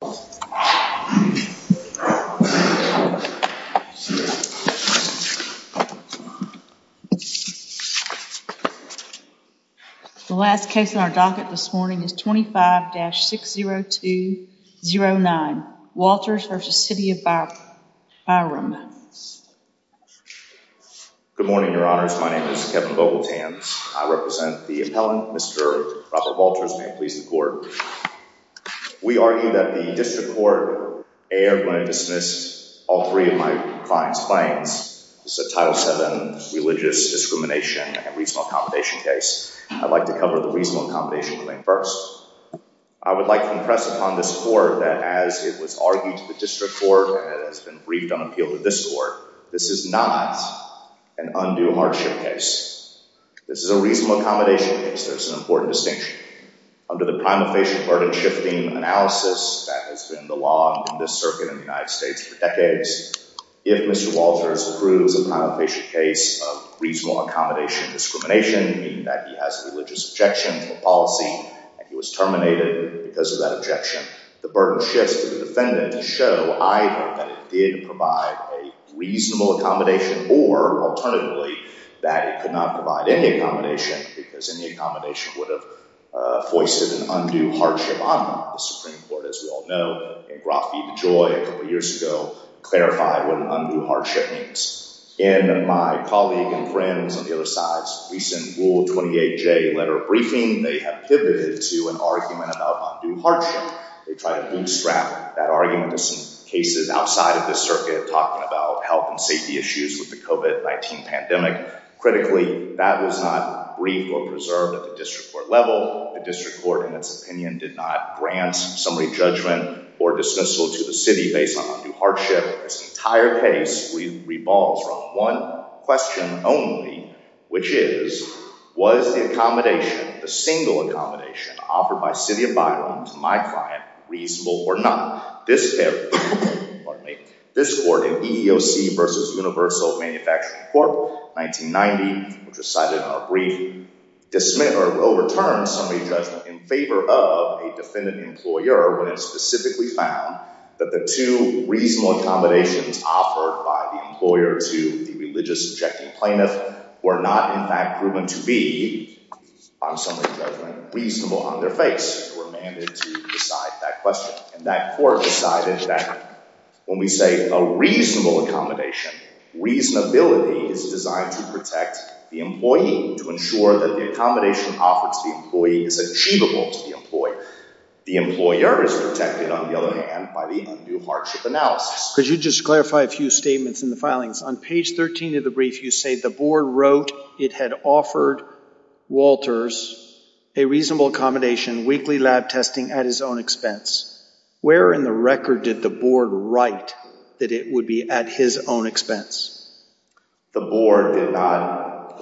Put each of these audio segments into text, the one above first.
The last case on our docket this morning is 25-60209 Walters v. City of Byram Good morning, your honors. My name is Kevin Vogeltan. I represent the appellant, Mr. Robert Walters, may it please the court. We argue that the district court erred when it dismissed all three of my client's claims. This is a Title VII religious discrimination and reasonable accommodation case. I'd like to cover the reasonable accommodation claim first. I would like to impress upon this court that as it was argued to the district court and it has been briefed on appeal to this court, this is not an undue hardship case. This is a reasonable accommodation case. There's an important distinction. Under the prima facie burden shifting analysis that has been the law in this circuit in the United States for decades, if Mr. Walters approves a prima facie case of reasonable accommodation discrimination, meaning that he has a religious objection to a policy and he was terminated because of that objection, the burden shifts to the defendant to show either that it did provide a reasonable accommodation or alternatively that it could not provide any accommodation because any accommodation would have foisted an undue hardship on the Supreme Court. As we all know, in Groff v. DeJoy a couple years ago clarified what an undue hardship means. In my colleague and friends on the other side's recent Rule 28J letter briefing, they have pivoted to an argument about undue hardship. They tried to bootstrap that argument to some cases outside of this circuit talking about health and safety issues with the COVID-19 pandemic. Critically, that was not briefed or preserved at the district court level. The district court in its opinion did not grant summary judgment or dismissal to the city based on undue hardship. This entire case revolves around one question only, which is, was the accommodation, the single accommodation offered by city of Byron to my client reasonable or not? This court in EEOC v. Universal Manufacturing Court 1990, which was cited in our briefing, overturned summary judgment in favor of a defendant employer when it specifically found that the two reasonable accommodations offered by the employer to the religious objecting plaintiff were not in fact proven to be, on summary judgment, reasonable on their face. They were mandated to decide that question. And that court decided that when we say a reasonable accommodation, reasonability is designed to protect the employee, to ensure that the accommodation offered to the employee is achievable to the employee. The employer is protected on the other hand by the undue hardship analysis. Could you just clarify a few statements in the filings? On page 13 of the brief, you say the board wrote it had offered Walters a reasonable accommodation, weekly lab testing at his own expense. Where in the record did the board write that it would be at his own expense? The board did not,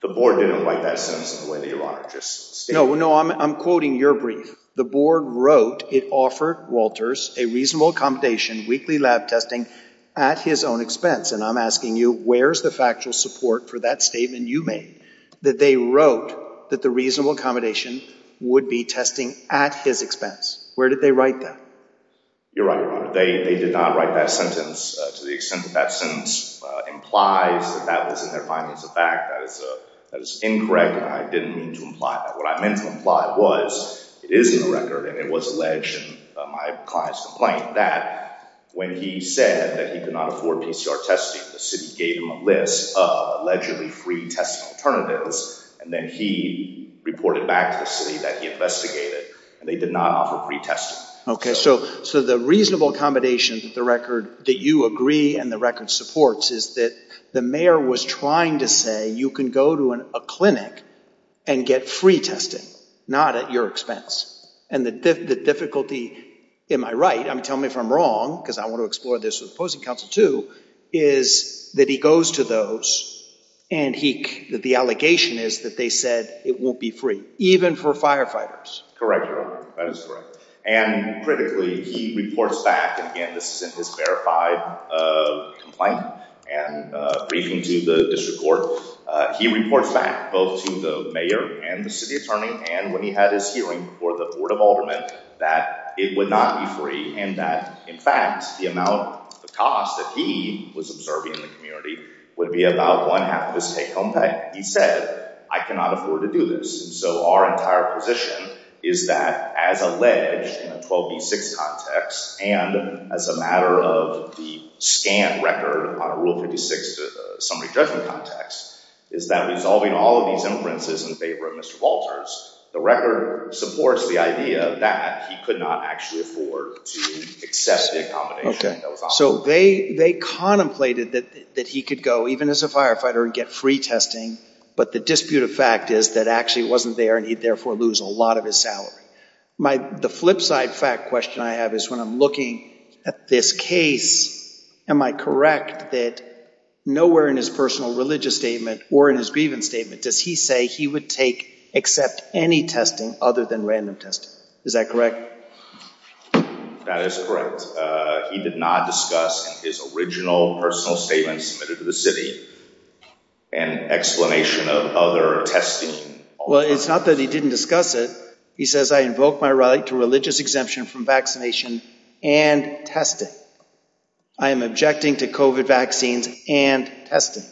the board didn't write that sentence in the way that you want it. No, I'm quoting your brief. The board wrote it offered Walters a reasonable accommodation, weekly lab testing at his own expense. And I'm asking you, where's the factual support for that statement you made, that they wrote that the reasonable accommodation would be testing at his expense? Where did they write that? You're right, Your Honor. They did not write that sentence to the extent that that sentence implies that that was in their findings of fact. That is incorrect and I didn't mean to imply that. What I meant to imply was it is in the record and it was alleged in my client's complaint that when he said that he could not afford PCR testing, the city gave him a list of allegedly free testing alternatives and then he reported back to the city that he investigated and they did not offer free testing. Okay, so the reasonable accommodation that you agree and the record supports is that the mayor was trying to say you can go to a clinic and get free testing, not at your expense. And the difficulty, am I right, tell me if I'm wrong because I want to explore this with opposing counsel too, is that he goes to those and the allegation is that they said it won't be free, even for firefighters. Correct, Your Honor, that is correct. And critically, he reports back, and again this is in his verified complaint and briefing to the district court, he reports back both to the mayor and the city attorney and when he had his hearing before the Board of Aldermen that it would not be free and that in fact the amount, the cost that he was observing in the community would be about one-half of his take-home pay. And he said, I cannot afford to do this. And so our entire position is that as alleged in the 12B6 context and as a matter of the scan record on Rule 56 summary judgment context, is that resolving all of these inferences in favor of Mr. Walters, the record supports the idea that he could not actually afford to accept the accommodation that was offered. So they contemplated that he could go even as a firefighter and get free testing, but the dispute of fact is that actually wasn't there and he'd therefore lose a lot of his salary. The flip side fact question I have is when I'm looking at this case, am I correct that nowhere in his personal religious statement or in his grievance statement does he say he would take, accept any testing other than random testing? Is that correct? That is correct. He did not discuss his original personal statement submitted to the city and explanation of other testing. Well, it's not that he didn't discuss it. He says, I invoke my right to religious exemption from vaccination and testing. I am objecting to COVID vaccines and testing.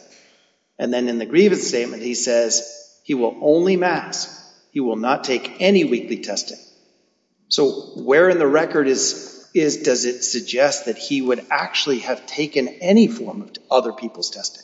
And then in the grievance statement, he says he will only mask. He will not take any weekly testing. So where in the record is, is, does it suggest that he would actually have taken any form of other people's testing?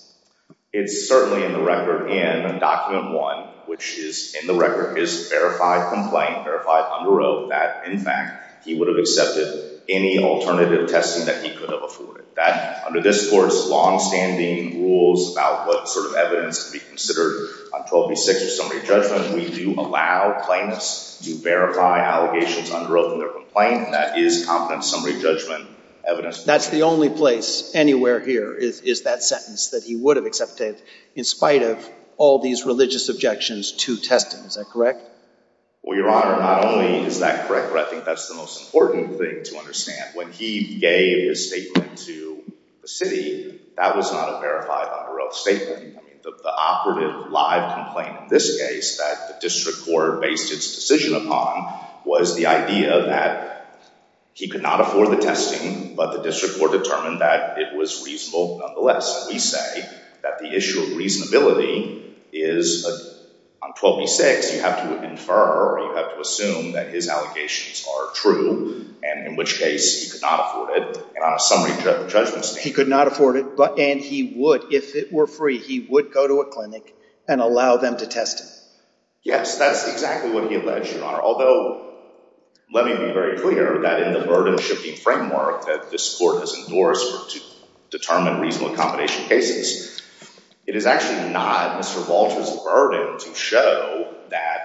It's certainly in the record in document one, which is in the record is verified complaint verified under oath that in fact, he would have accepted any alternative testing that he could have afforded that under this course, longstanding rules about what sort of evidence to be considered on 1236 or summary judgment. We do allow plaintiffs to verify allegations under oath in their complaint. And that is competent summary judgment evidence. That's the only place anywhere here is, is that sentence that he would have accepted in spite of all these religious objections to testing. Is that correct? Well, Your Honor, not only is that correct, but I think that's the most important thing to understand. When he gave his statement to the city, that was not a verified under oath statement. The operative live complaint in this case that the district court based its decision upon was the idea that he could not afford the testing, but the district court determined that it was reasonable. Nonetheless, we say that the issue of reasonability is on 1236. In this case, you have to infer or you have to assume that his allegations are true, and in which case he could not afford it, and on a summary judgment statement. He could not afford it, and he would, if it were free, he would go to a clinic and allow them to test him. Yes, that's exactly what he alleged, Your Honor, although let me be very clear that in the burden-shifting framework that this court has endorsed to determine reasonable accommodation cases, it is actually not Mr. Walter's burden to show that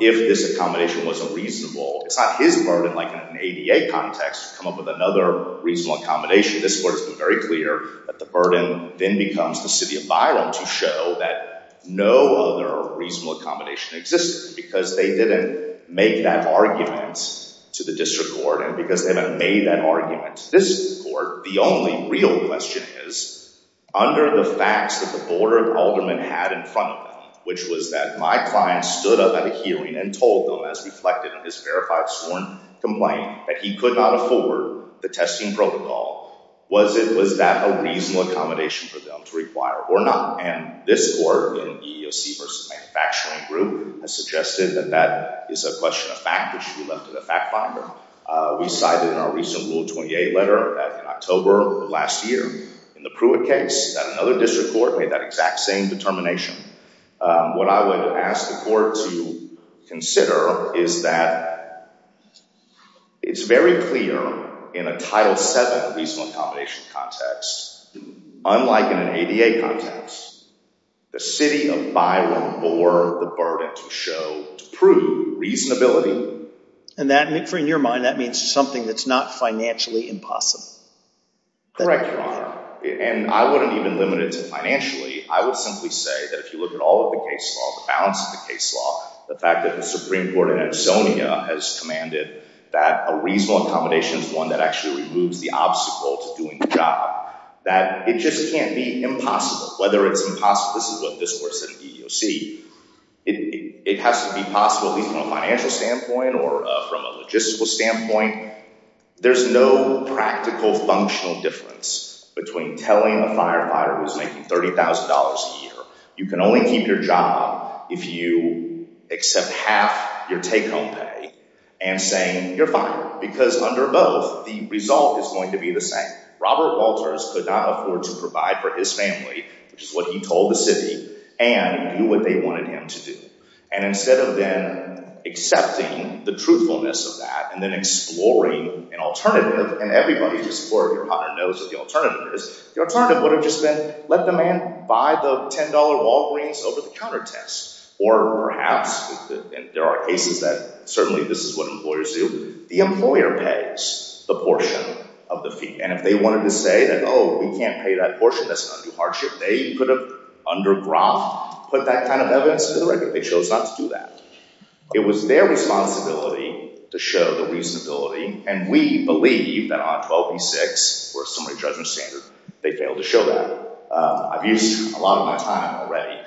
if this accommodation was unreasonable, it's not his burden, like in an ADA context, to come up with another reasonable accommodation. This court has been very clear that the burden then becomes the city of Byron to show that no other reasonable accommodation existed because they didn't make that argument to the district court, and because they haven't made that argument to this court, the only real question is, under the facts that the Board of Aldermen had in front of them, which was that my client stood up at a hearing and told them, as reflected in his verified sworn complaint, that he could not afford the testing protocol, was that a reasonable accommodation for them to require or not? And this court in EEOC v. Manufacturing Group has suggested that that is a question of fact, which we left to the fact finder. We cited in our recent Rule 28 letter in October of last year in the Pruitt case that another district court made that exact same determination. What I would ask the court to consider is that it's very clear in a Title VII reasonable accommodation context, unlike in an ADA context, the city of Byron bore the burden to show, to prove, reasonability. And that, in your mind, that means something that's not financially impossible. Correct, Your Honor. And I wouldn't even limit it to financially. I would simply say that if you look at all of the case law, the balance of the case law, the fact that the Supreme Court in Edsonia has commanded that a reasonable accommodation is one that actually removes the obstacle to doing the job, that it just can't be impossible. Whether it's impossible, this is what this court said in EEOC, it has to be possible from a financial standpoint or from a logistical standpoint. There's no practical, functional difference between telling a firefighter who's making $30,000 a year you can only keep your job if you accept half your take-home pay and saying you're fine. Because under both, the result is going to be the same. Robert Walters could not afford to provide for his family, which is what he told the city, and do what they wanted him to do. And instead of then accepting the truthfulness of that and then exploring an alternative, and everybody, Your Honor, knows what the alternative is, the alternative would have just been let the man buy the $10 Walgreens over the counter test. Or perhaps, and there are cases that certainly this is what employers do, the employer pays the portion of the fee. And if they wanted to say that, oh, we can't pay that portion, that's going to do hardship, they could have, under Groff, put that kind of evidence to the record. They chose not to do that. It was their responsibility to show the reasonability, and we believe that on 12b-6 or a summary judgment standard, they failed to show that. I've used a lot of my time already.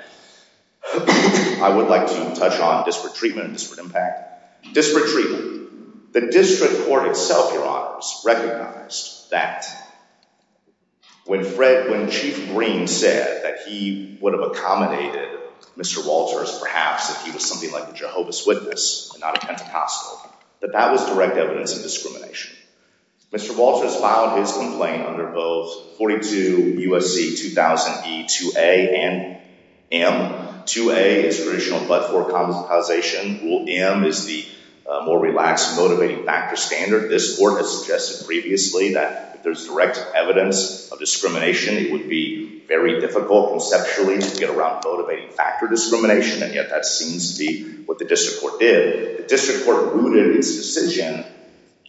I would like to touch on disparate treatment and disparate impact. Disparate treatment. The district court itself, Your Honors, recognized that when Chief Green said that he would have accommodated Mr. Walters, perhaps if he was something like a Jehovah's Witness and not a Pentecostal, that that was direct evidence of discrimination. Mr. Walters filed his complaint under both 42 U.S.C. 2000E-2A and M. 2A is traditional but-for-compromisation. Rule M is the more relaxed motivating factor standard. This Court has suggested previously that if there's direct evidence of discrimination, it would be very difficult conceptually to get around motivating factor discrimination, and yet that seems to be what the district court did. The district court rooted its decision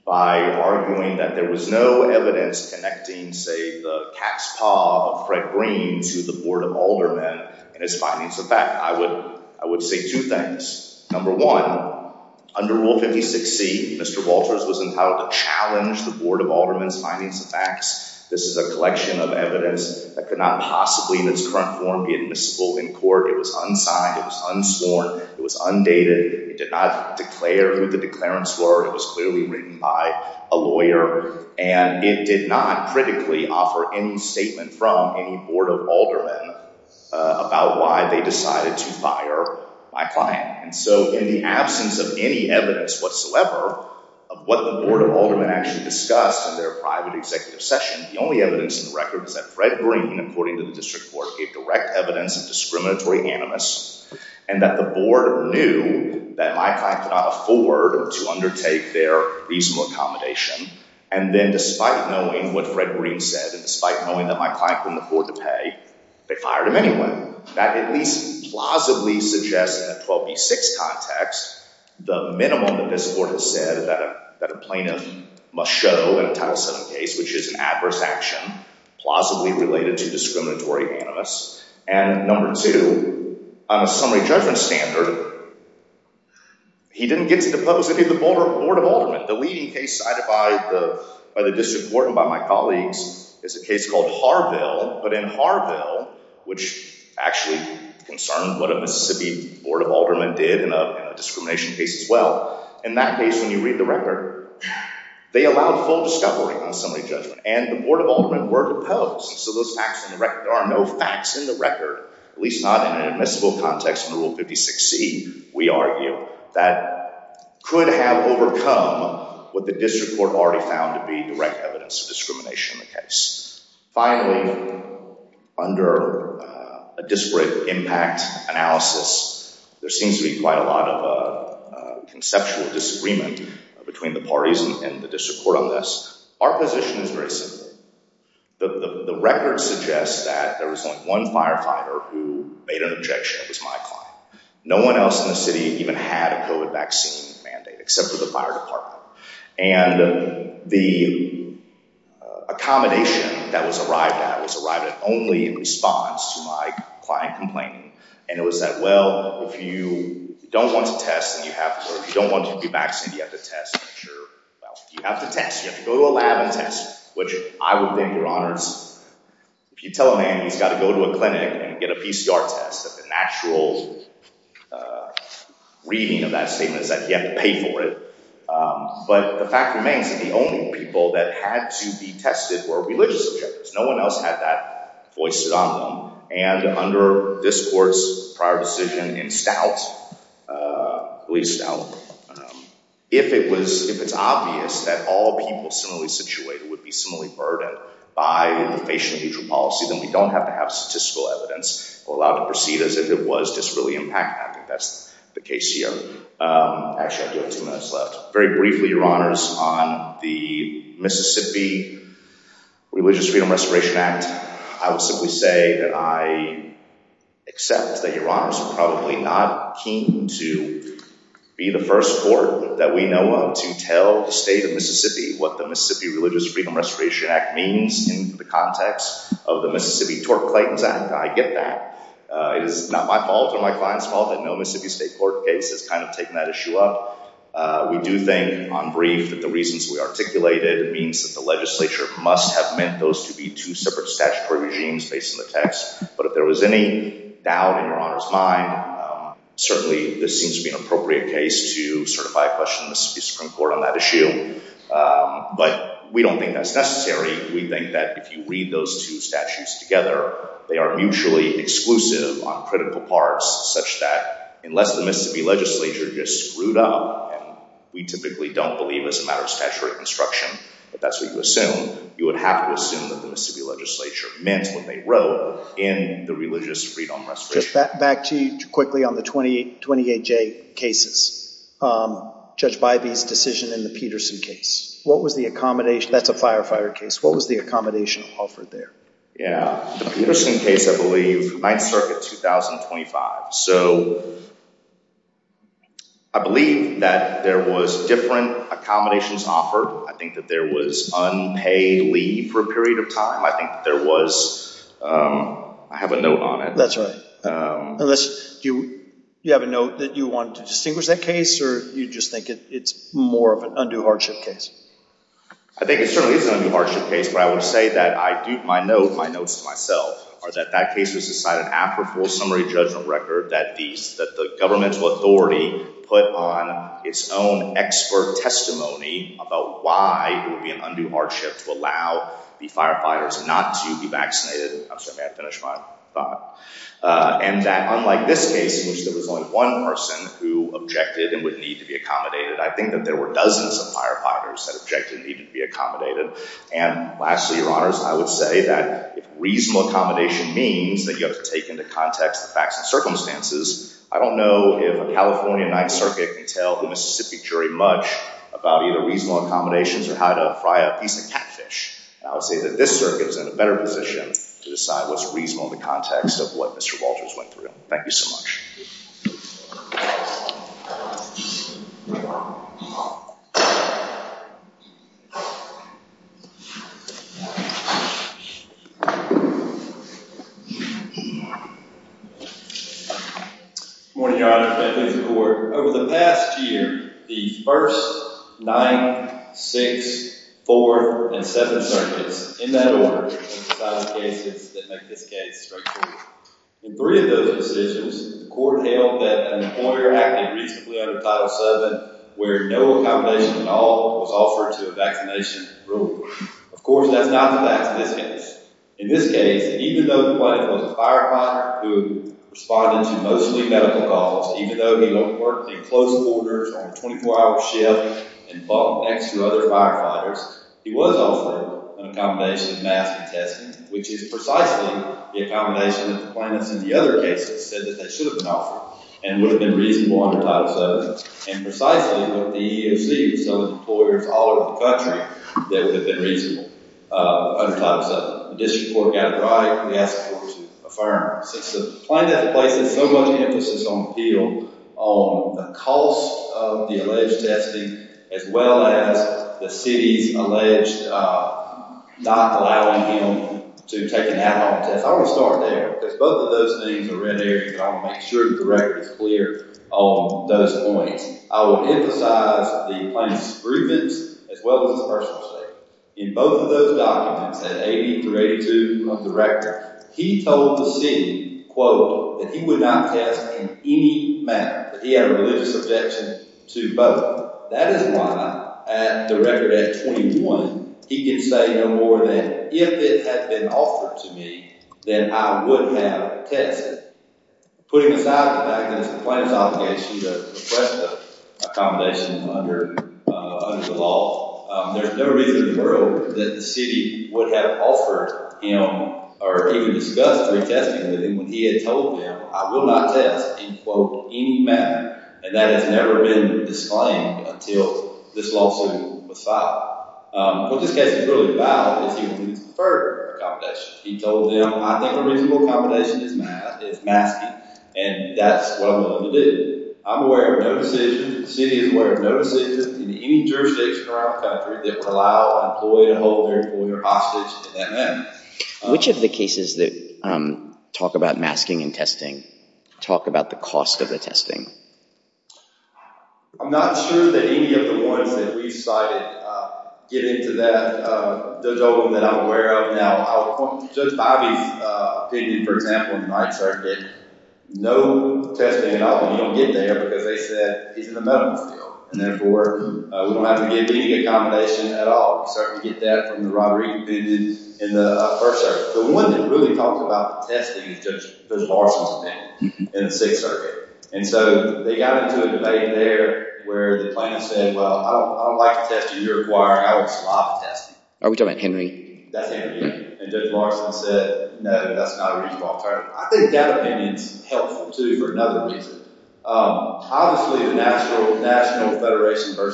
by arguing that there was no evidence connecting, say, the cat's paw of Fred Green to the Board of Aldermen in its findings. With that, I would say two things. Number one, under Rule 56C, Mr. Walters was entitled to challenge the Board of Aldermen's findings and facts. This is a collection of evidence that could not possibly in its current form be admissible in court. It was unsigned. It was unsworn. It was undated. It did not declare who the declarants were. It was clearly written by a lawyer, and it did not critically offer any statement from any Board of Aldermen about why they decided to fire my client. And so in the absence of any evidence whatsoever of what the Board of Aldermen actually discussed in their private executive session, the only evidence in the record is that Fred Green, according to the district court, gave direct evidence of discriminatory animus, and that the Board knew that my client could not afford to undertake their reasonable accommodation. And then despite knowing what Fred Green said, and despite knowing that my client couldn't afford to pay, they fired him anyway. That at least plausibly suggests in a 12B6 context the minimum that this Court has said that a plaintiff must show in a Title VII case, which is an adverse action plausibly related to discriminatory animus. And number two, on a summary judgment standard, he didn't get to depose any of the Board of Aldermen. The leading case cited by the district court and by my colleagues is a case called Harville. But in Harville, which actually concerned what a Mississippi Board of Aldermen did in a discrimination case as well, in that case when you read the record, they allowed full discovery on summary judgment, and the Board of Aldermen were deposed. And so there are no facts in the record, at least not in an admissible context in Rule 56C, we argue, that could have overcome what the district court already found to be direct evidence of discrimination in the case. Finally, under a disparate impact analysis, there seems to be quite a lot of conceptual disagreement between the parties and the district court on this. Our position is very simple. The record suggests that there was only one firefighter who made an objection. It was my client. No one else in the city even had a COVID vaccine mandate, except for the fire department. And the accommodation that was arrived at was arrived at only in response to my client complaining. And it was that, well, if you don't want to test and you have to, or if you don't want to be vaccinated, you have to test. You have to test. You have to go to a lab and test, which I would think, Your Honors, if you tell a man he's got to go to a clinic and get a PCR test, that the natural reading of that statement is that you have to pay for it. But the fact remains that the only people that had to be tested were religious objectors. No one else had that foisted on them. And under this court's prior decision in Stout, if it's obvious that all people similarly situated would be similarly burdened by the facial neutral policy, then we don't have to have statistical evidence allowed to proceed as if it was just really impact. I think that's the case here. Actually, I do have two minutes left. Very briefly, Your Honors, on the Mississippi Religious Freedom Restoration Act. I would simply say that I accept that Your Honors are probably not keen to be the first court that we know of to tell the state of Mississippi what the Mississippi Religious Freedom Restoration Act means in the context of the Mississippi Tort Claims Act. I get that. It is not my fault or my client's fault that no Mississippi state court case has kind of taken that issue up. We do think, on brief, that the reasons we articulated means that the legislature must have meant those to be two separate statutory regimes based on the text. But if there was any doubt in Your Honor's mind, certainly this seems to be an appropriate case to certify a question in the Mississippi Supreme Court on that issue. But we don't think that's necessary. We think that if you read those two statutes together, they are mutually exclusive on critical parts such that unless the Mississippi legislature just screwed up, and we typically don't believe as a matter of statutory construction that that's what you assume, you would have to assume that the Mississippi legislature meant what they wrote in the Religious Freedom Restoration Act. Back to you quickly on the 28J cases. Judge Bybee's decision in the Peterson case. That's a firefighter case. What was the accommodation offered there? Yeah. The Peterson case, I believe, 9th Circuit, 2025. So I believe that there was different accommodations offered. I think that there was unpaid leave for a period of time. I think there was – I have a note on it. That's right. Unless you have a note that you want to distinguish that case or you just think it's more of an undue hardship case? I think it certainly is an undue hardship case, but I would say that I dupe my notes to myself, or that that case was decided after a full summary judgment record that the governmental authority put on its own expert testimony about why it would be an undue hardship to allow the firefighters not to be vaccinated. I'm sorry. May I finish my thought? And that unlike this case in which there was only one person who objected and would need to be accommodated, I think that there were dozens of firefighters that objected and needed to be accommodated. And lastly, Your Honors, I would say that if reasonable accommodation means that you have to take into context the facts and circumstances, I don't know if a California 9th Circuit can tell a Mississippi jury much about either reasonable accommodations or how to fry a piece of catfish. And I would say that this circuit is in a better position to decide what's reasonable in the context of what Mr. Walters went through. Thank you so much. Good morning, Your Honors. May I please have the floor? Over the past year, the first, ninth, sixth, fourth, and seventh circuits in that order have decided cases that make this case structural. In three of those decisions, the court held that an employer acted reasonably under Title VII, where no accommodation at all was offered to a vaccination group. Of course, that's not the fact of this case. In this case, even though the plaintiff was a firefighter who responded to mostly medical calls, even though he worked in closed quarters on a 24-hour shift and fought next to other firefighters, he was offered an accommodation of masking testing, which is precisely the accommodation that the plaintiffs in the other cases said that they should have been offered and would have been reasonable under Title VII, and precisely what the EEOC and some of the employers all over the country said would have been reasonable under Title VII. The district court got it right, and we asked the court to affirm. Since the plaintiff places so much emphasis on appeal, on the cost of the alleged testing, as well as the city's alleged not allowing him to take an ad hoc test, I want to start there, because both of those things are red areas, and I want to make sure that the record is clear on those points. I will emphasize the plaintiff's grievance as well as his personal statement. In both of those documents, at 80 through 82 of the record, he told the city, quote, that he would not test in any manner, that he had a religious objection to both. That is why at the record at 21, he can say no more than, if it had been offered to me, then I would have tested. Putting aside the fact that it's the plaintiff's obligation to request accommodation under the law, there's no reason in the world that the city would have offered him or even discussed retesting him when he had told them, I will not test in, quote, any manner, and that has never been disclaimed until this lawsuit was filed. What this case is really about is he would prefer accommodation. He told them, I think reasonable accommodation is masking, and that's what I'm willing to do. I'm aware of no decision, the city is aware of no decision in any jurisdiction around the country that would allow an employee to hold their employer hostage in that manner. Which of the cases that talk about masking and testing talk about the cost of the testing? I'm not sure that any of the ones that we cited get into that. There's only one that I'm aware of now. I would point to Judge Bobby's opinion, for example, in the Ninth Circuit, no testing at all, and he don't get there because they said he's in the medical field, and therefore, we don't have to give any accommodation at all. We certainly get that from the robbery he committed in the First Circuit. The one that really talks about the testing is Judge Busch-Larson's opinion in the Sixth Circuit. And so they got into a debate there where the plaintiff said, well, I don't like to test you. You're requiring Alex Lobb to test me. Are we talking about Henry? That's Henry. And Judge Larson said, no, that's not a reasonable alternative. I think that opinion is helpful, too, for another reason. Obviously, the National Federation v.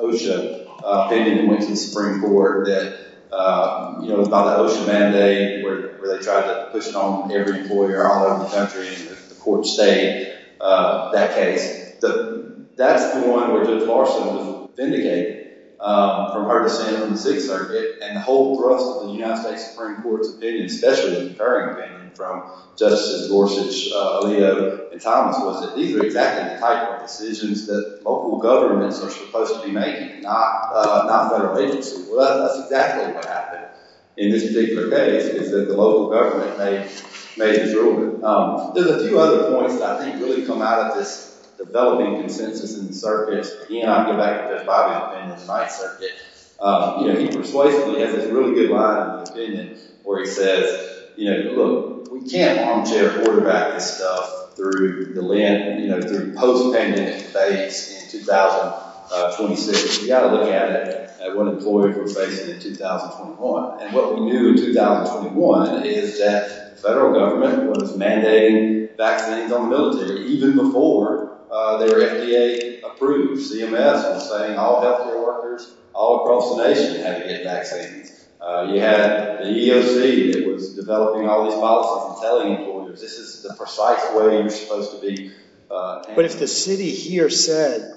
OSHA opinion went to the Supreme Court about the OSHA mandate where they tried to push it on every employer all over the country and the court stayed that case. That's the one where Judge Larson was vindicated from her dissent in the Sixth Circuit, and the whole thrust of the United States Supreme Court's opinion, especially the concurring opinion from Justices Gorsuch, Aaliyah, and Thomas, was that these are exactly the type of decisions that local governments are supposed to be making, not federal agencies. Well, that's exactly what happened in this particular case, is that the local government made the ruling. There's a few other points that I think really come out of this developing consensus in the circuits. Again, I'm going to go back to Judge Bobby O'Brien in the Ninth Circuit. He persuasively has this really good line of opinion where he says, look, we can't armchair quarterback this stuff through post-payment banks in 2026. We've got to look at it at what employers we're facing in 2021. And what we knew in 2021 is that the federal government was mandating vaccines on the military even before their FDA approved CMS and saying all health care workers all across the nation had to get vaccines. You had the EEOC that was developing all these policies and telling employers this is the precise way you're supposed to be. But if the city here said,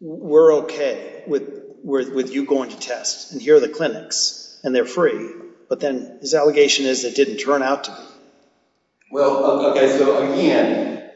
we're OK with you going to test and here are the clinics and they're free. But then his allegation is it didn't turn out to be. Well, OK, so again,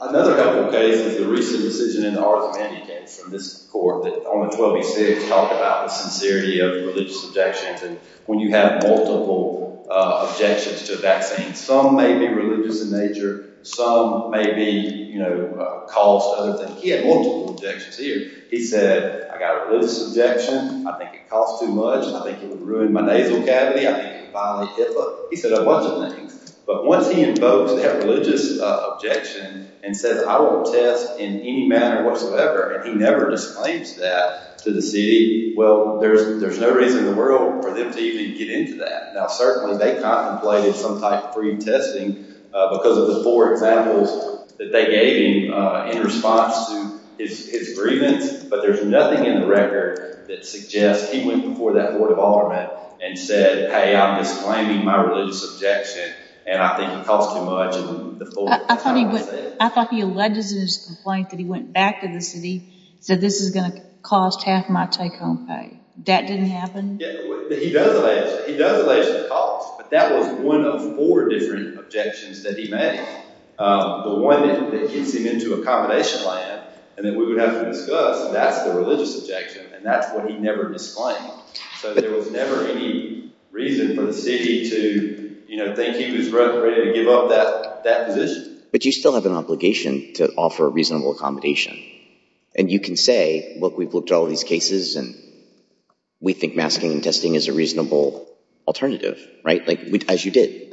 another helpful case is the recent decision in the Arts and Humanities from this court, that on the 12th you see it's talked about the sincerity of religious objections. When you have multiple objections to vaccines, some may be religious in nature. Some may be, you know, caused other things. He had multiple objections here. He said, I got a religious objection. I think it costs too much. I think it would ruin my nasal cavity. I think it would violate HIPAA. He said a bunch of things. But once he invokes that religious objection and says I won't test in any manner whatsoever and he never disclaims that to the city. Well, there's no reason in the world for them to even get into that. Now, certainly they contemplated some type of free testing because of the four examples that they gave him in response to his grievance. But there's nothing in the record that suggests he went before that court of aldermen and said, hey, I'm disclaiming my religious objection and I think it costs too much. I thought he alleged in his complaint that he went back to the city and said this is going to cost half my take-home pay. That didn't happen? He does allege the cost. But that was one of four different objections that he made. The one that gets him into accommodation land and that we would have to discuss, that's the religious objection. And that's what he never disclaimed. So there was never any reason for the city to think he was ready to give up that position. But you still have an obligation to offer a reasonable accommodation. And you can say, look, we've looked at all these cases and we think masking and testing is a reasonable alternative. Right? As you did.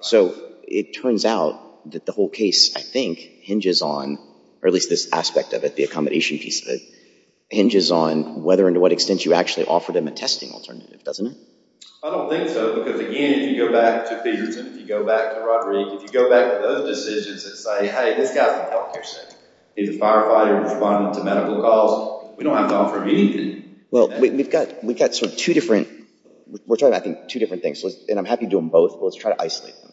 So it turns out that the whole case, I think, hinges on, or at least this aspect of it, the accommodation piece, hinges on whether and to what extent you actually offered him a testing alternative, doesn't it? I don't think so. Because, again, if you go back to Peterson, if you go back to Roderick, if you go back to those decisions and say, hey, this guy's a health care citizen. He's a firefighter responding to medical calls. We don't have to offer him anything. Well, we've got sort of two different, we're talking about two different things. And I'm happy to do them both, but let's try to isolate them.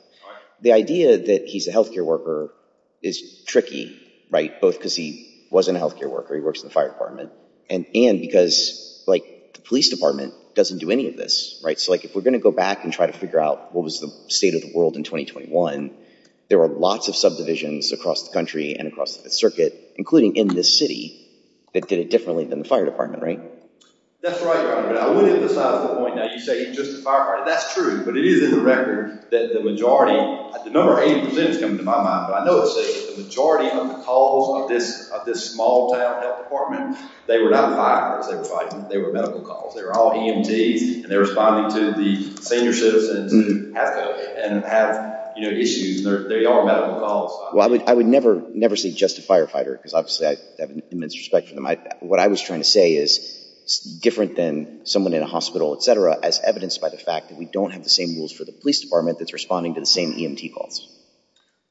The idea that he's a health care worker is tricky, right? Both because he wasn't a health care worker. He works in the fire department. And because, like, the police department doesn't do any of this. Right? So if we're going to go back and try to figure out what was the state of the world in 2021, there were lots of subdivisions across the country and across the circuit, including in this city, that did it differently than the fire department. That's right, Robert. I would emphasize the point that you say he's just a firefighter. That's true. But it is in the record that the majority, the number 80% is coming to my mind. But I know it's safe. The majority of the calls of this small town health department, they were not firefighters. They were fighting. They were medical calls. They were all EMTs. And they're responding to the senior citizens that have issues. They are medical calls. Well, I would never say just a firefighter. Because, obviously, I have an immense respect for them. What I was trying to say is different than someone in a hospital, et cetera, as evidenced by the fact that we don't have the same rules for the police department that's responding to the same EMT calls.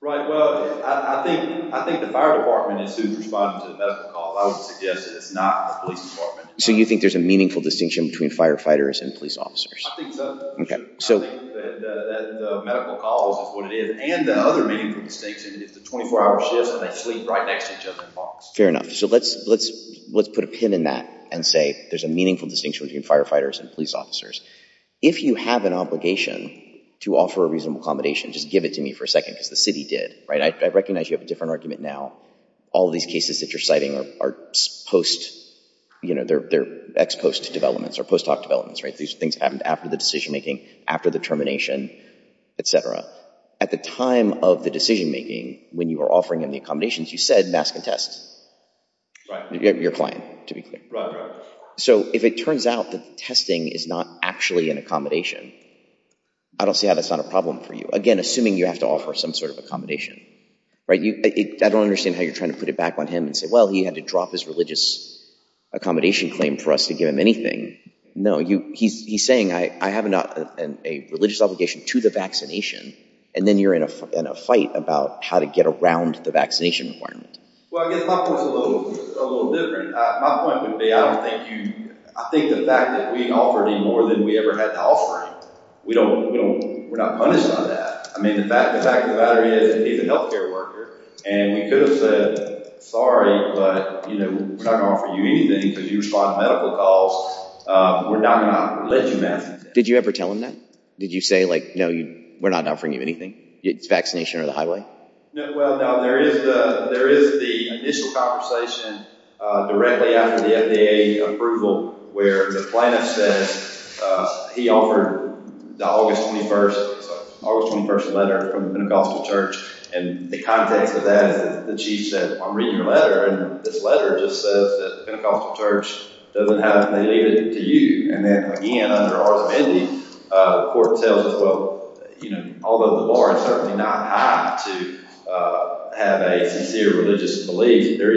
Right. Well, I think the fire department is who's responding to the medical calls. I would suggest that it's not the police department. So you think there's a meaningful distinction between firefighters and police officers? I think so. Okay. I think that the medical calls is what it is. And the other meaningful distinction is the 24-hour shifts, and they sleep right next to each other in parks. Fair enough. So let's put a pin in that and say there's a meaningful distinction between firefighters and police officers. If you have an obligation to offer a reasonable accommodation, just give it to me for a second, because the city did. Right. I recognize you have a different argument now. All these cases that you're citing are post, you know, they're ex post developments or post hoc developments. These things happened after the decision making, after the termination, et cetera. At the time of the decision making, when you were offering him the accommodations, you said mask and test. Right. Your client, to be clear. Right, right. So if it turns out that the testing is not actually an accommodation, I don't see how that's not a problem for you. Again, assuming you have to offer some sort of accommodation. Right? I don't understand how you're trying to put it back on him and say, well, he had to drop his religious accommodation claim for us to give him anything. No, he's saying, I have a religious obligation to the vaccination. And then you're in a fight about how to get around the vaccination requirement. Well, I guess my point's a little different. My point would be, I don't think you, I think the fact that we offered him more than we ever had to offer him, we don't, we're not punishing him for that. I mean, the fact of the matter is, he's a health care worker. And we could have said, sorry, but, you know, we're not going to offer you anything because you respond to medical calls. We're not going to let you mask and test. Did you ever tell him that? Did you say like, no, we're not offering you anything, vaccination or the highway? Well, there is the initial conversation directly after the FDA approval where the plaintiff says he offered the August 21st, August 21st letter from the Pentecostal church. And the context of that is the chief said, I'm reading your letter. And this letter just says that the Pentecostal church doesn't have it. They leave it to you. And then again, under our ability, the court tells us, well, you know, although the bar is certainly not high to have a sincere religious belief, there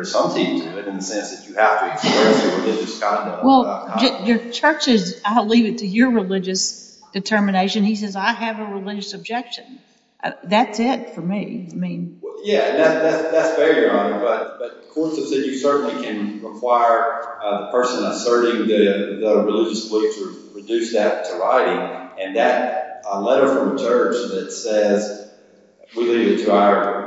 is something to it in the sense that you have to express your religious conduct. Well, your church is, I'll leave it to your religious determination. He says, I have a religious objection. That's it for me. Yeah, that's fair, Your Honor. But the court has said you certainly can require the person asserting the religious belief to reduce that to writing. And that letter from the church that says we leave it to our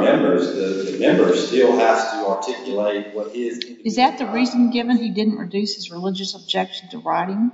members, the member still has to articulate what his opinion is. Is that the reason given he didn't reduce his religious objection to writing?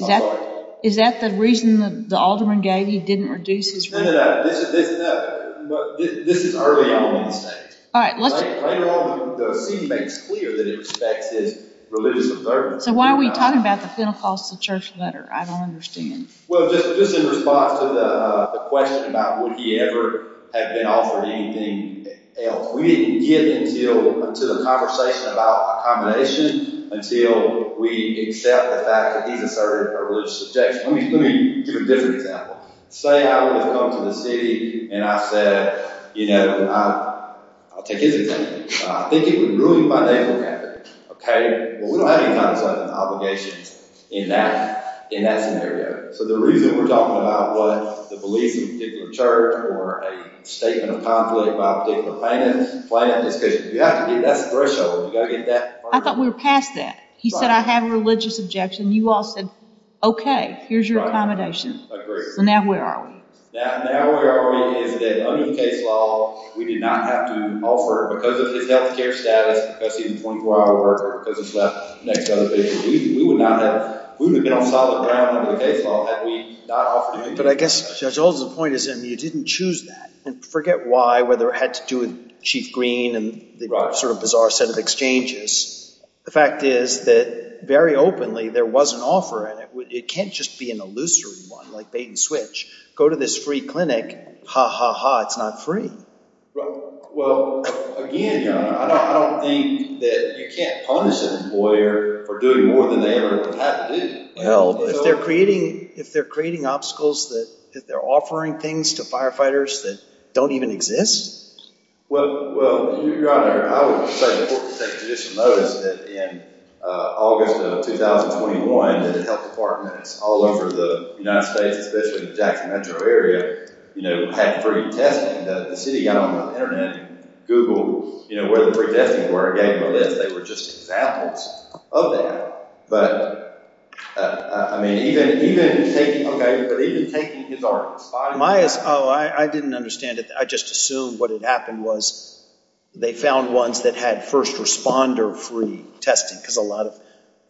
I'm sorry? Is that the reason the alderman gave he didn't reduce his religious objection to writing? No, no, no. This is early on in the state. All right. Later on, the city makes clear that it respects his religious observance. So why are we talking about the Pentecostal church letter? I don't understand. Well, just in response to the question about would he ever have been offered anything else, we didn't get into the conversation about accommodation until we accept the fact that he's asserted a religious objection. Let me give a different example. Say I would have come to the city and I said, you know, I'll take his opinion. I think it would ruin my name or character. Okay? Well, we don't have any kind of obligations in that scenario. So the reason we're talking about what the beliefs of a particular church or a statement of conflict by a particular plaintiff is because you have to get that threshold. You've got to get that. I thought we were past that. He said I have a religious objection. You all said, okay, here's your accommodation. I agree. So now where are we? Now where are we is that under the case law, we did not have to offer because of his health care status, because he's a 24-hour worker, because he slept next to other people. We would not have been on solid ground under the case law had we not offered him anything. But I guess Judge Holden's point is you didn't choose that. And forget why, whether it had to do with Chief Green and the sort of bizarre set of exchanges. The fact is that very openly there was an offer, and it can't just be an illusory one like bait and switch. Go to this free clinic. Ha, ha, ha, it's not free. Well, again, Your Honor, I don't think that you can't punish an employer for doing more than they have to do. Well, if they're creating obstacles that they're offering things to firefighters that don't even exist? Well, Your Honor, I would say it's important to take additional notice that in August of 2021, the health departments all over the United States, especially the Jackson Metro area, had free testing. The city got on the Internet and Googled where the free testing were and gave them a list. They were just examples of that. But, I mean, even taking, okay, but even taking his office. Oh, I didn't understand it. I just assumed what had happened was they found ones that had first responder free testing because a lot of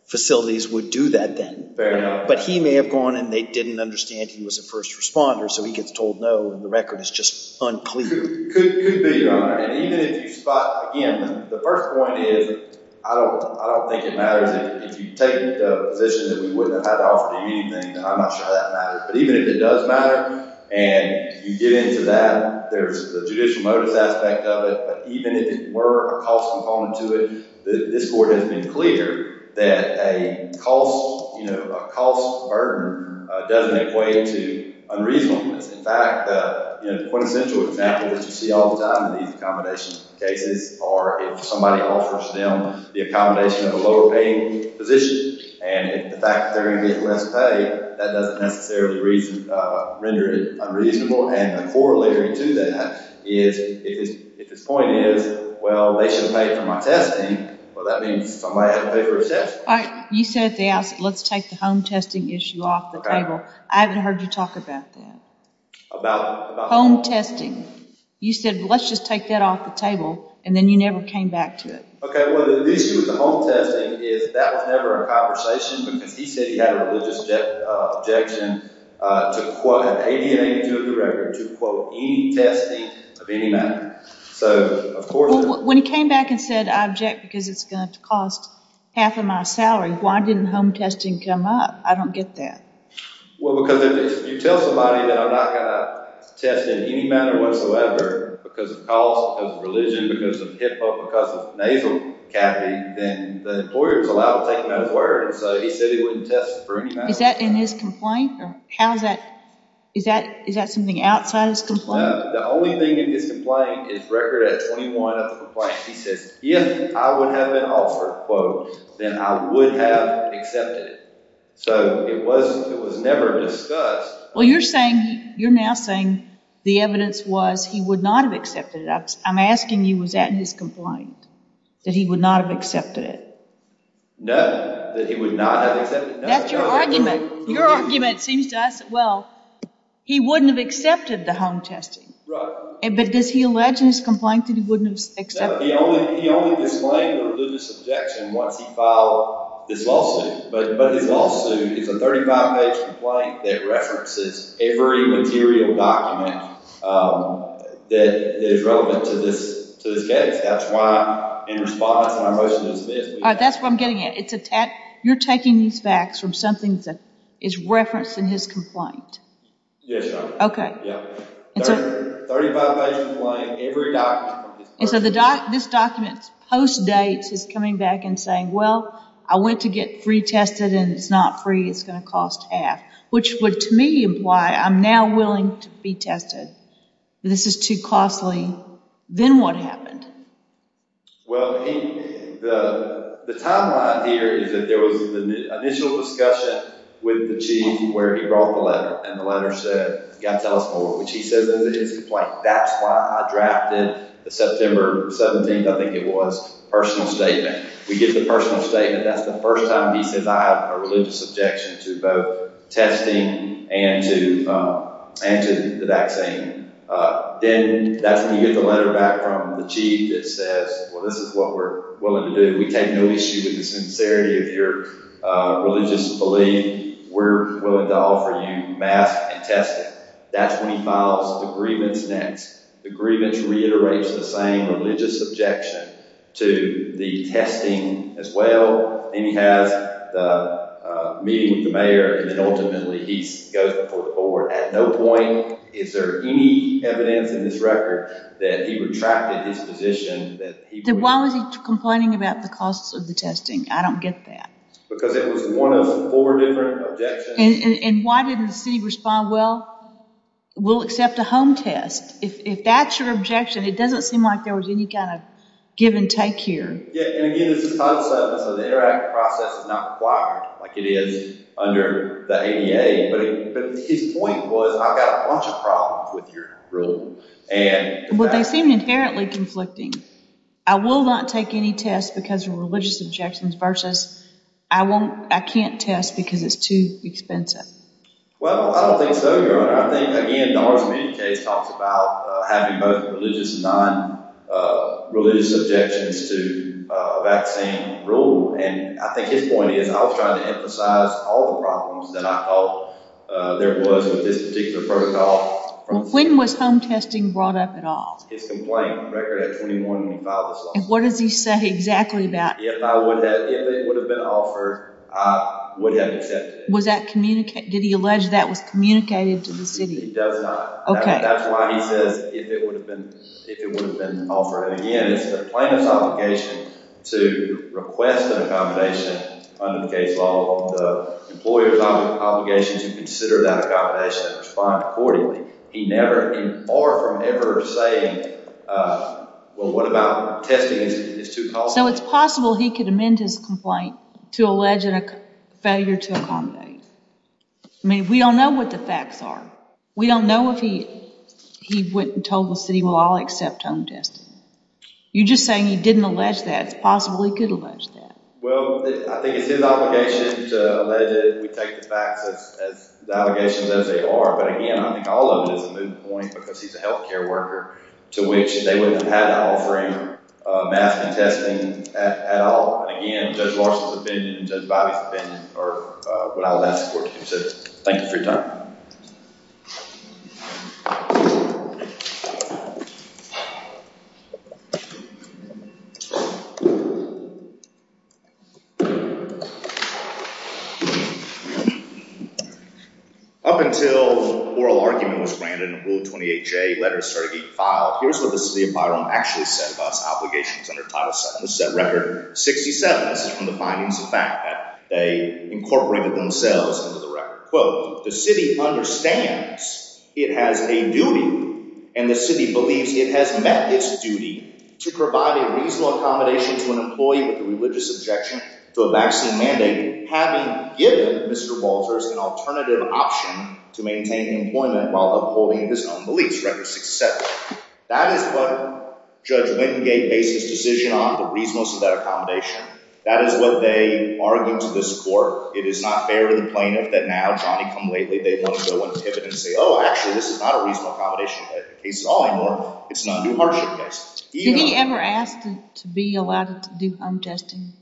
facilities would do that then. But he may have gone and they didn't understand he was a first responder, so he gets told no, and the record is just unclear. Could be, Your Honor. And even if you spot, again, the first point is I don't think it matters. If you take the position that we wouldn't have had to offer to you anything, then I'm not sure that matters. But even if it does matter and you get into that, there's the judicial notice aspect of it, but even if it were a cost component to it, this court has been clear that a cost burden doesn't equate to unreasonableness. In fact, the quintessential example that you see all the time in these accommodation cases are if somebody offers them the accommodation at a lower paying position and the fact that they're going to get less pay, that doesn't necessarily render it unreasonable. And the corollary to that is if his point is, well, they shouldn't pay for my testing, well, that means somebody has to pay for his test. All right. You said they asked, let's take the home testing issue off the table. I haven't heard you talk about that. About what? Home testing. You said, well, let's just take that off the table, and then you never came back to it. Okay. Well, the issue with the home testing is that was never a conversation because he said he had a religious objection to quote, ADM 82 of the record, to quote, any testing of any matter. So, of course... When he came back and said, I object because it's going to cost half of my salary, why didn't home testing come up? I don't get that. Well, because if you tell somebody that I'm not going to test in any manner whatsoever because of cause, because of religion, because of hip hop, because of nasal cavity, then the employer is allowed to take him at his word. And so he said he wouldn't test for any matter whatsoever. Is that in his complaint? Or how is that? Is that something outside his complaint? No. The only thing in his complaint is record at 21 of the complaint. He says, if I would have been offered, quote, then I would have accepted it. So, it was never discussed. Well, you're saying, you're now saying the evidence was he would not have accepted it. I'm asking you, was that in his complaint, that he would not have accepted it? No, that he would not have accepted it. That's your argument. Your argument seems to us, well, he wouldn't have accepted the home testing. Right. But does he allege in his complaint that he wouldn't have accepted it? He only disclaimed a religious objection once he filed this lawsuit. But his lawsuit is a 35-page complaint that references every material document that is relevant to this case. That's why in response to my motion to dismiss. That's what I'm getting at. You're taking these facts from something that is referenced in his complaint. Yes, ma'am. Okay. 35-page complaint, every document. And so, this document post-dates his coming back and saying, well, I went to get free tested and it's not free. It's going to cost half, which would to me imply I'm now willing to be tested. This is too costly. Then what happened? Well, the timeline here is that there was an initial discussion with the chief where he brought the letter. And the letter said, you've got to tell us more, which he says in his complaint. That's why I drafted the September 17th, I think it was, personal statement. We get the personal statement. That's the first time he says I have a religious objection to both testing and to the vaccine. Then that's when you get the letter back from the chief that says, well, this is what we're willing to do. We take no issue with the sincerity of your religious belief. We're willing to offer you masks and testing. That's when he files the grievance next. The grievance reiterates the same religious objection to the testing as well. Then he has the meeting with the mayor and then ultimately he goes before the board. At no point is there any evidence in this record that he retracted his position. Then why was he complaining about the costs of the testing? I don't get that. Because it was one of four different objections. Why didn't the city respond, well, we'll accept a home test. If that's your objection, it doesn't seem like there was any kind of give and take here. Again, it's a concept. The interactive process is not required like it is under the ADA. His point was, I've got a bunch of problems with your rule. They seem inherently conflicting. I will not take any tests because of religious objections versus I can't test because it's too expensive. Well, I don't think so, Your Honor. I think, again, the Hartzman case talks about having both religious and non-religious objections to vaccine rule. I think his point is, I was trying to emphasize all the problems that I thought there was with this particular protocol. When was home testing brought up at all? His complaint on record at 21 when he filed this lawsuit. What does he say exactly about it? If it would have been offered, I would have accepted it. Did he allege that was communicated to the city? It does not. Okay. That's why he says, if it would have been offered. Again, it's the plaintiff's obligation to request an accommodation under the case law. The employer's obligation to consider that accommodation and respond accordingly. He never and far from ever say, well, what about testing? It's too costly. So, it's possible he could amend his complaint to allege a failure to accommodate. I mean, we don't know what the facts are. We don't know if he told the city, well, I'll accept home testing. You're just saying he didn't allege that. It's possible he could allege that. Well, I think it's his obligation to allege it. We take the facts as the allegations as they are. But again, I think all of it is a moot point because he's a healthcare worker, to which they wouldn't have had to offer him masking and testing at all. And again, Judge Larson's opinion and Judge Bobby's opinion are what I would ask the court to consider. Thank you for your time. Up until oral argument was granted and Rule 28J letters started getting filed, here's what the city of Byron actually said about its obligations under Title VII. The set record, 67, this is from the findings of fact that they incorporated themselves into the record. Quote, the city understands it has a duty and the city believes it has met its duty to provide a reasonable accommodation to an employee with a religious objection to a vaccine mandate, having given Mr. Walters an alternative option to maintain employment while upholding his own beliefs. Record 67. That is what Judge Wingate based his decision on, the reasonableness of that accommodation. That is what they argued to this court. It is not fair to the plaintiff that now Johnny come lately, they want to go and pivot and say, oh, actually this is not a reasonable accommodation case at all anymore. It's an undue hardship case. Did he ever ask to be allowed to do home testing?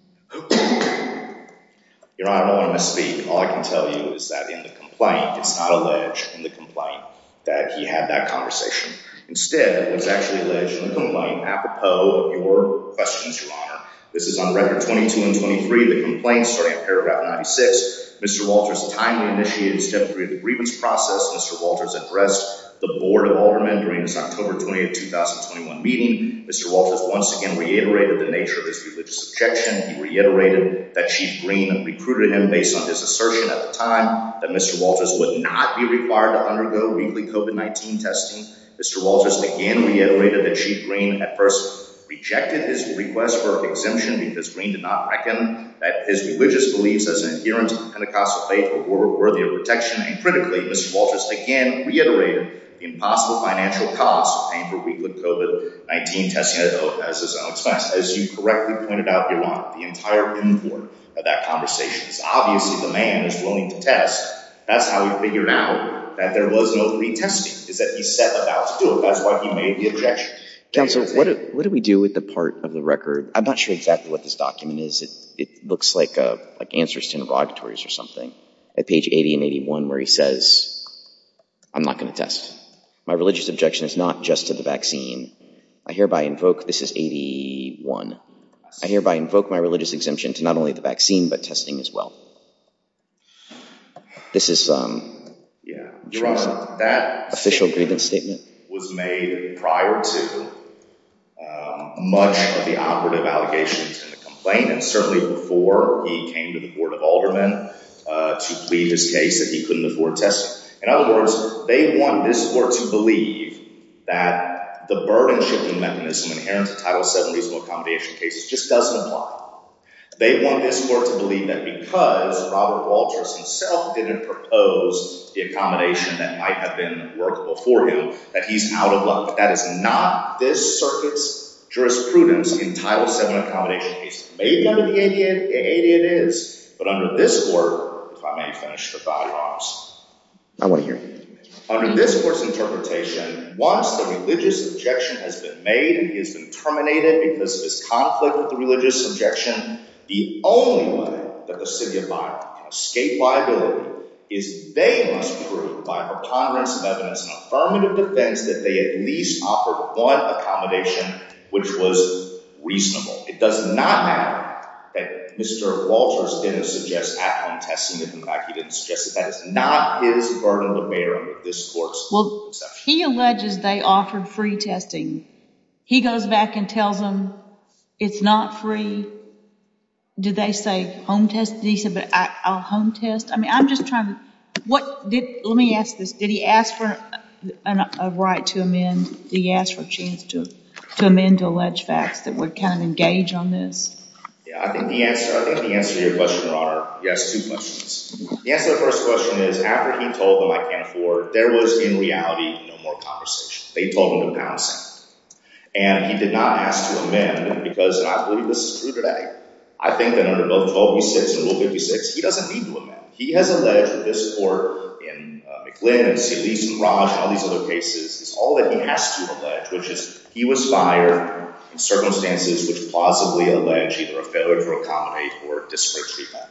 Your Honor, I don't want to misspeak. All I can tell you is that in the complaint, it's not alleged in the complaint that he had that conversation. Instead, it was actually alleged in the complaint apropos of your questions, Your Honor. This is on record 22 and 23, the complaint starting at paragraph 96. Mr. Walters timely initiated step three of the grievance process. Mr. Walters addressed the Board of Aldermen during his October 20th, 2021 meeting. Mr. Walters once again reiterated the nature of his religious objection. He reiterated that Chief Green recruited him based on his assertion at the time that Mr. Walters would not be required to undergo weekly COVID-19 testing. Mr. Walters again reiterated that Chief Green at first rejected his request for exemption because Green did not reckon that his religious beliefs as an adherent of the Pentecostal faith were worthy of protection. And critically, Mr. Walters again reiterated the impossible financial cost of paying for weekly COVID-19 testing, as his own expense. As you correctly pointed out, Your Honor, the entire import of that conversation is obviously the man is willing to test. That's how he figured out that there was no retesting, is that he set about to do it. That's why he made the objection. Counsel, what do we do with the part of the record? I'm not sure exactly what this document is. It looks like answers to interrogatories or something. At page 80 and 81 where he says, I'm not going to test. My religious objection is not just to the vaccine. I hereby invoke, this is 81. I hereby invoke my religious exemption to not only the vaccine but testing as well. This is an official grievance statement. Your Honor, that statement was made prior to much of the operative allegations and the complainants, certainly before he came to the Board of Aldermen to plead his case that he couldn't afford testing. In other words, they want this court to believe that the burden-shifting mechanism inherent to Title VII reasonable accommodation cases just doesn't apply. They want this court to believe that because Robert Walters himself didn't propose the accommodation that might have been workable for him, that he's out of luck. That is not this circuit's jurisprudence in Title VII accommodation cases. Maybe under the ADA it is, but under this court, if I may finish the thought, Your Honor. I want to hear it. Under this court's interpretation, once the religious objection has been made and he has been terminated because of his conflict with the religious objection, the only way that the city of Byron can escape liability is they must prove by a congruence of evidence and affirmative defense that they at least offered one accommodation which was reasonable. It does not matter that Mr. Walters didn't suggest at-home testing. In fact, he didn't suggest that that is not his burden to bear under this court's perception. He alleges they offered free testing. He goes back and tells them it's not free. Did they say home test? Did he say a home test? I'm just trying to—let me ask this. Did he ask for a right to amend? Did he ask for a chance to amend to allege facts that would kind of engage on this? I think the answer to your question, Your Honor—he asked two questions. The answer to the first question is after he told them I can't afford, there was, in reality, no more conversation. They told him to pound sand. And he did not ask to amend because—and I believe this is true today. I think that under both Rule 1256 and Rule 56, he doesn't need to amend. He has alleged that this court in McLintock and St. Lucie's and Raj and all these other cases is all that he has to allege, which is he was fired in circumstances which plausibly allege either a failure to accommodate or disparate treatment.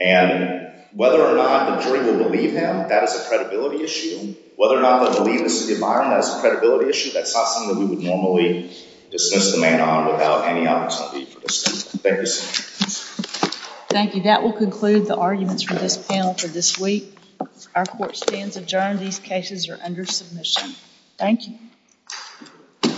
And whether or not the jury will believe him, that is a credibility issue. Whether or not they'll believe this is the environment, that is a credibility issue. That's not something that we would normally dismiss the man on without any opportunity for discussion. Thank you, sir. Thank you. That will conclude the arguments from this panel for this week. Our court stands adjourned. These cases are under submission. Thank you.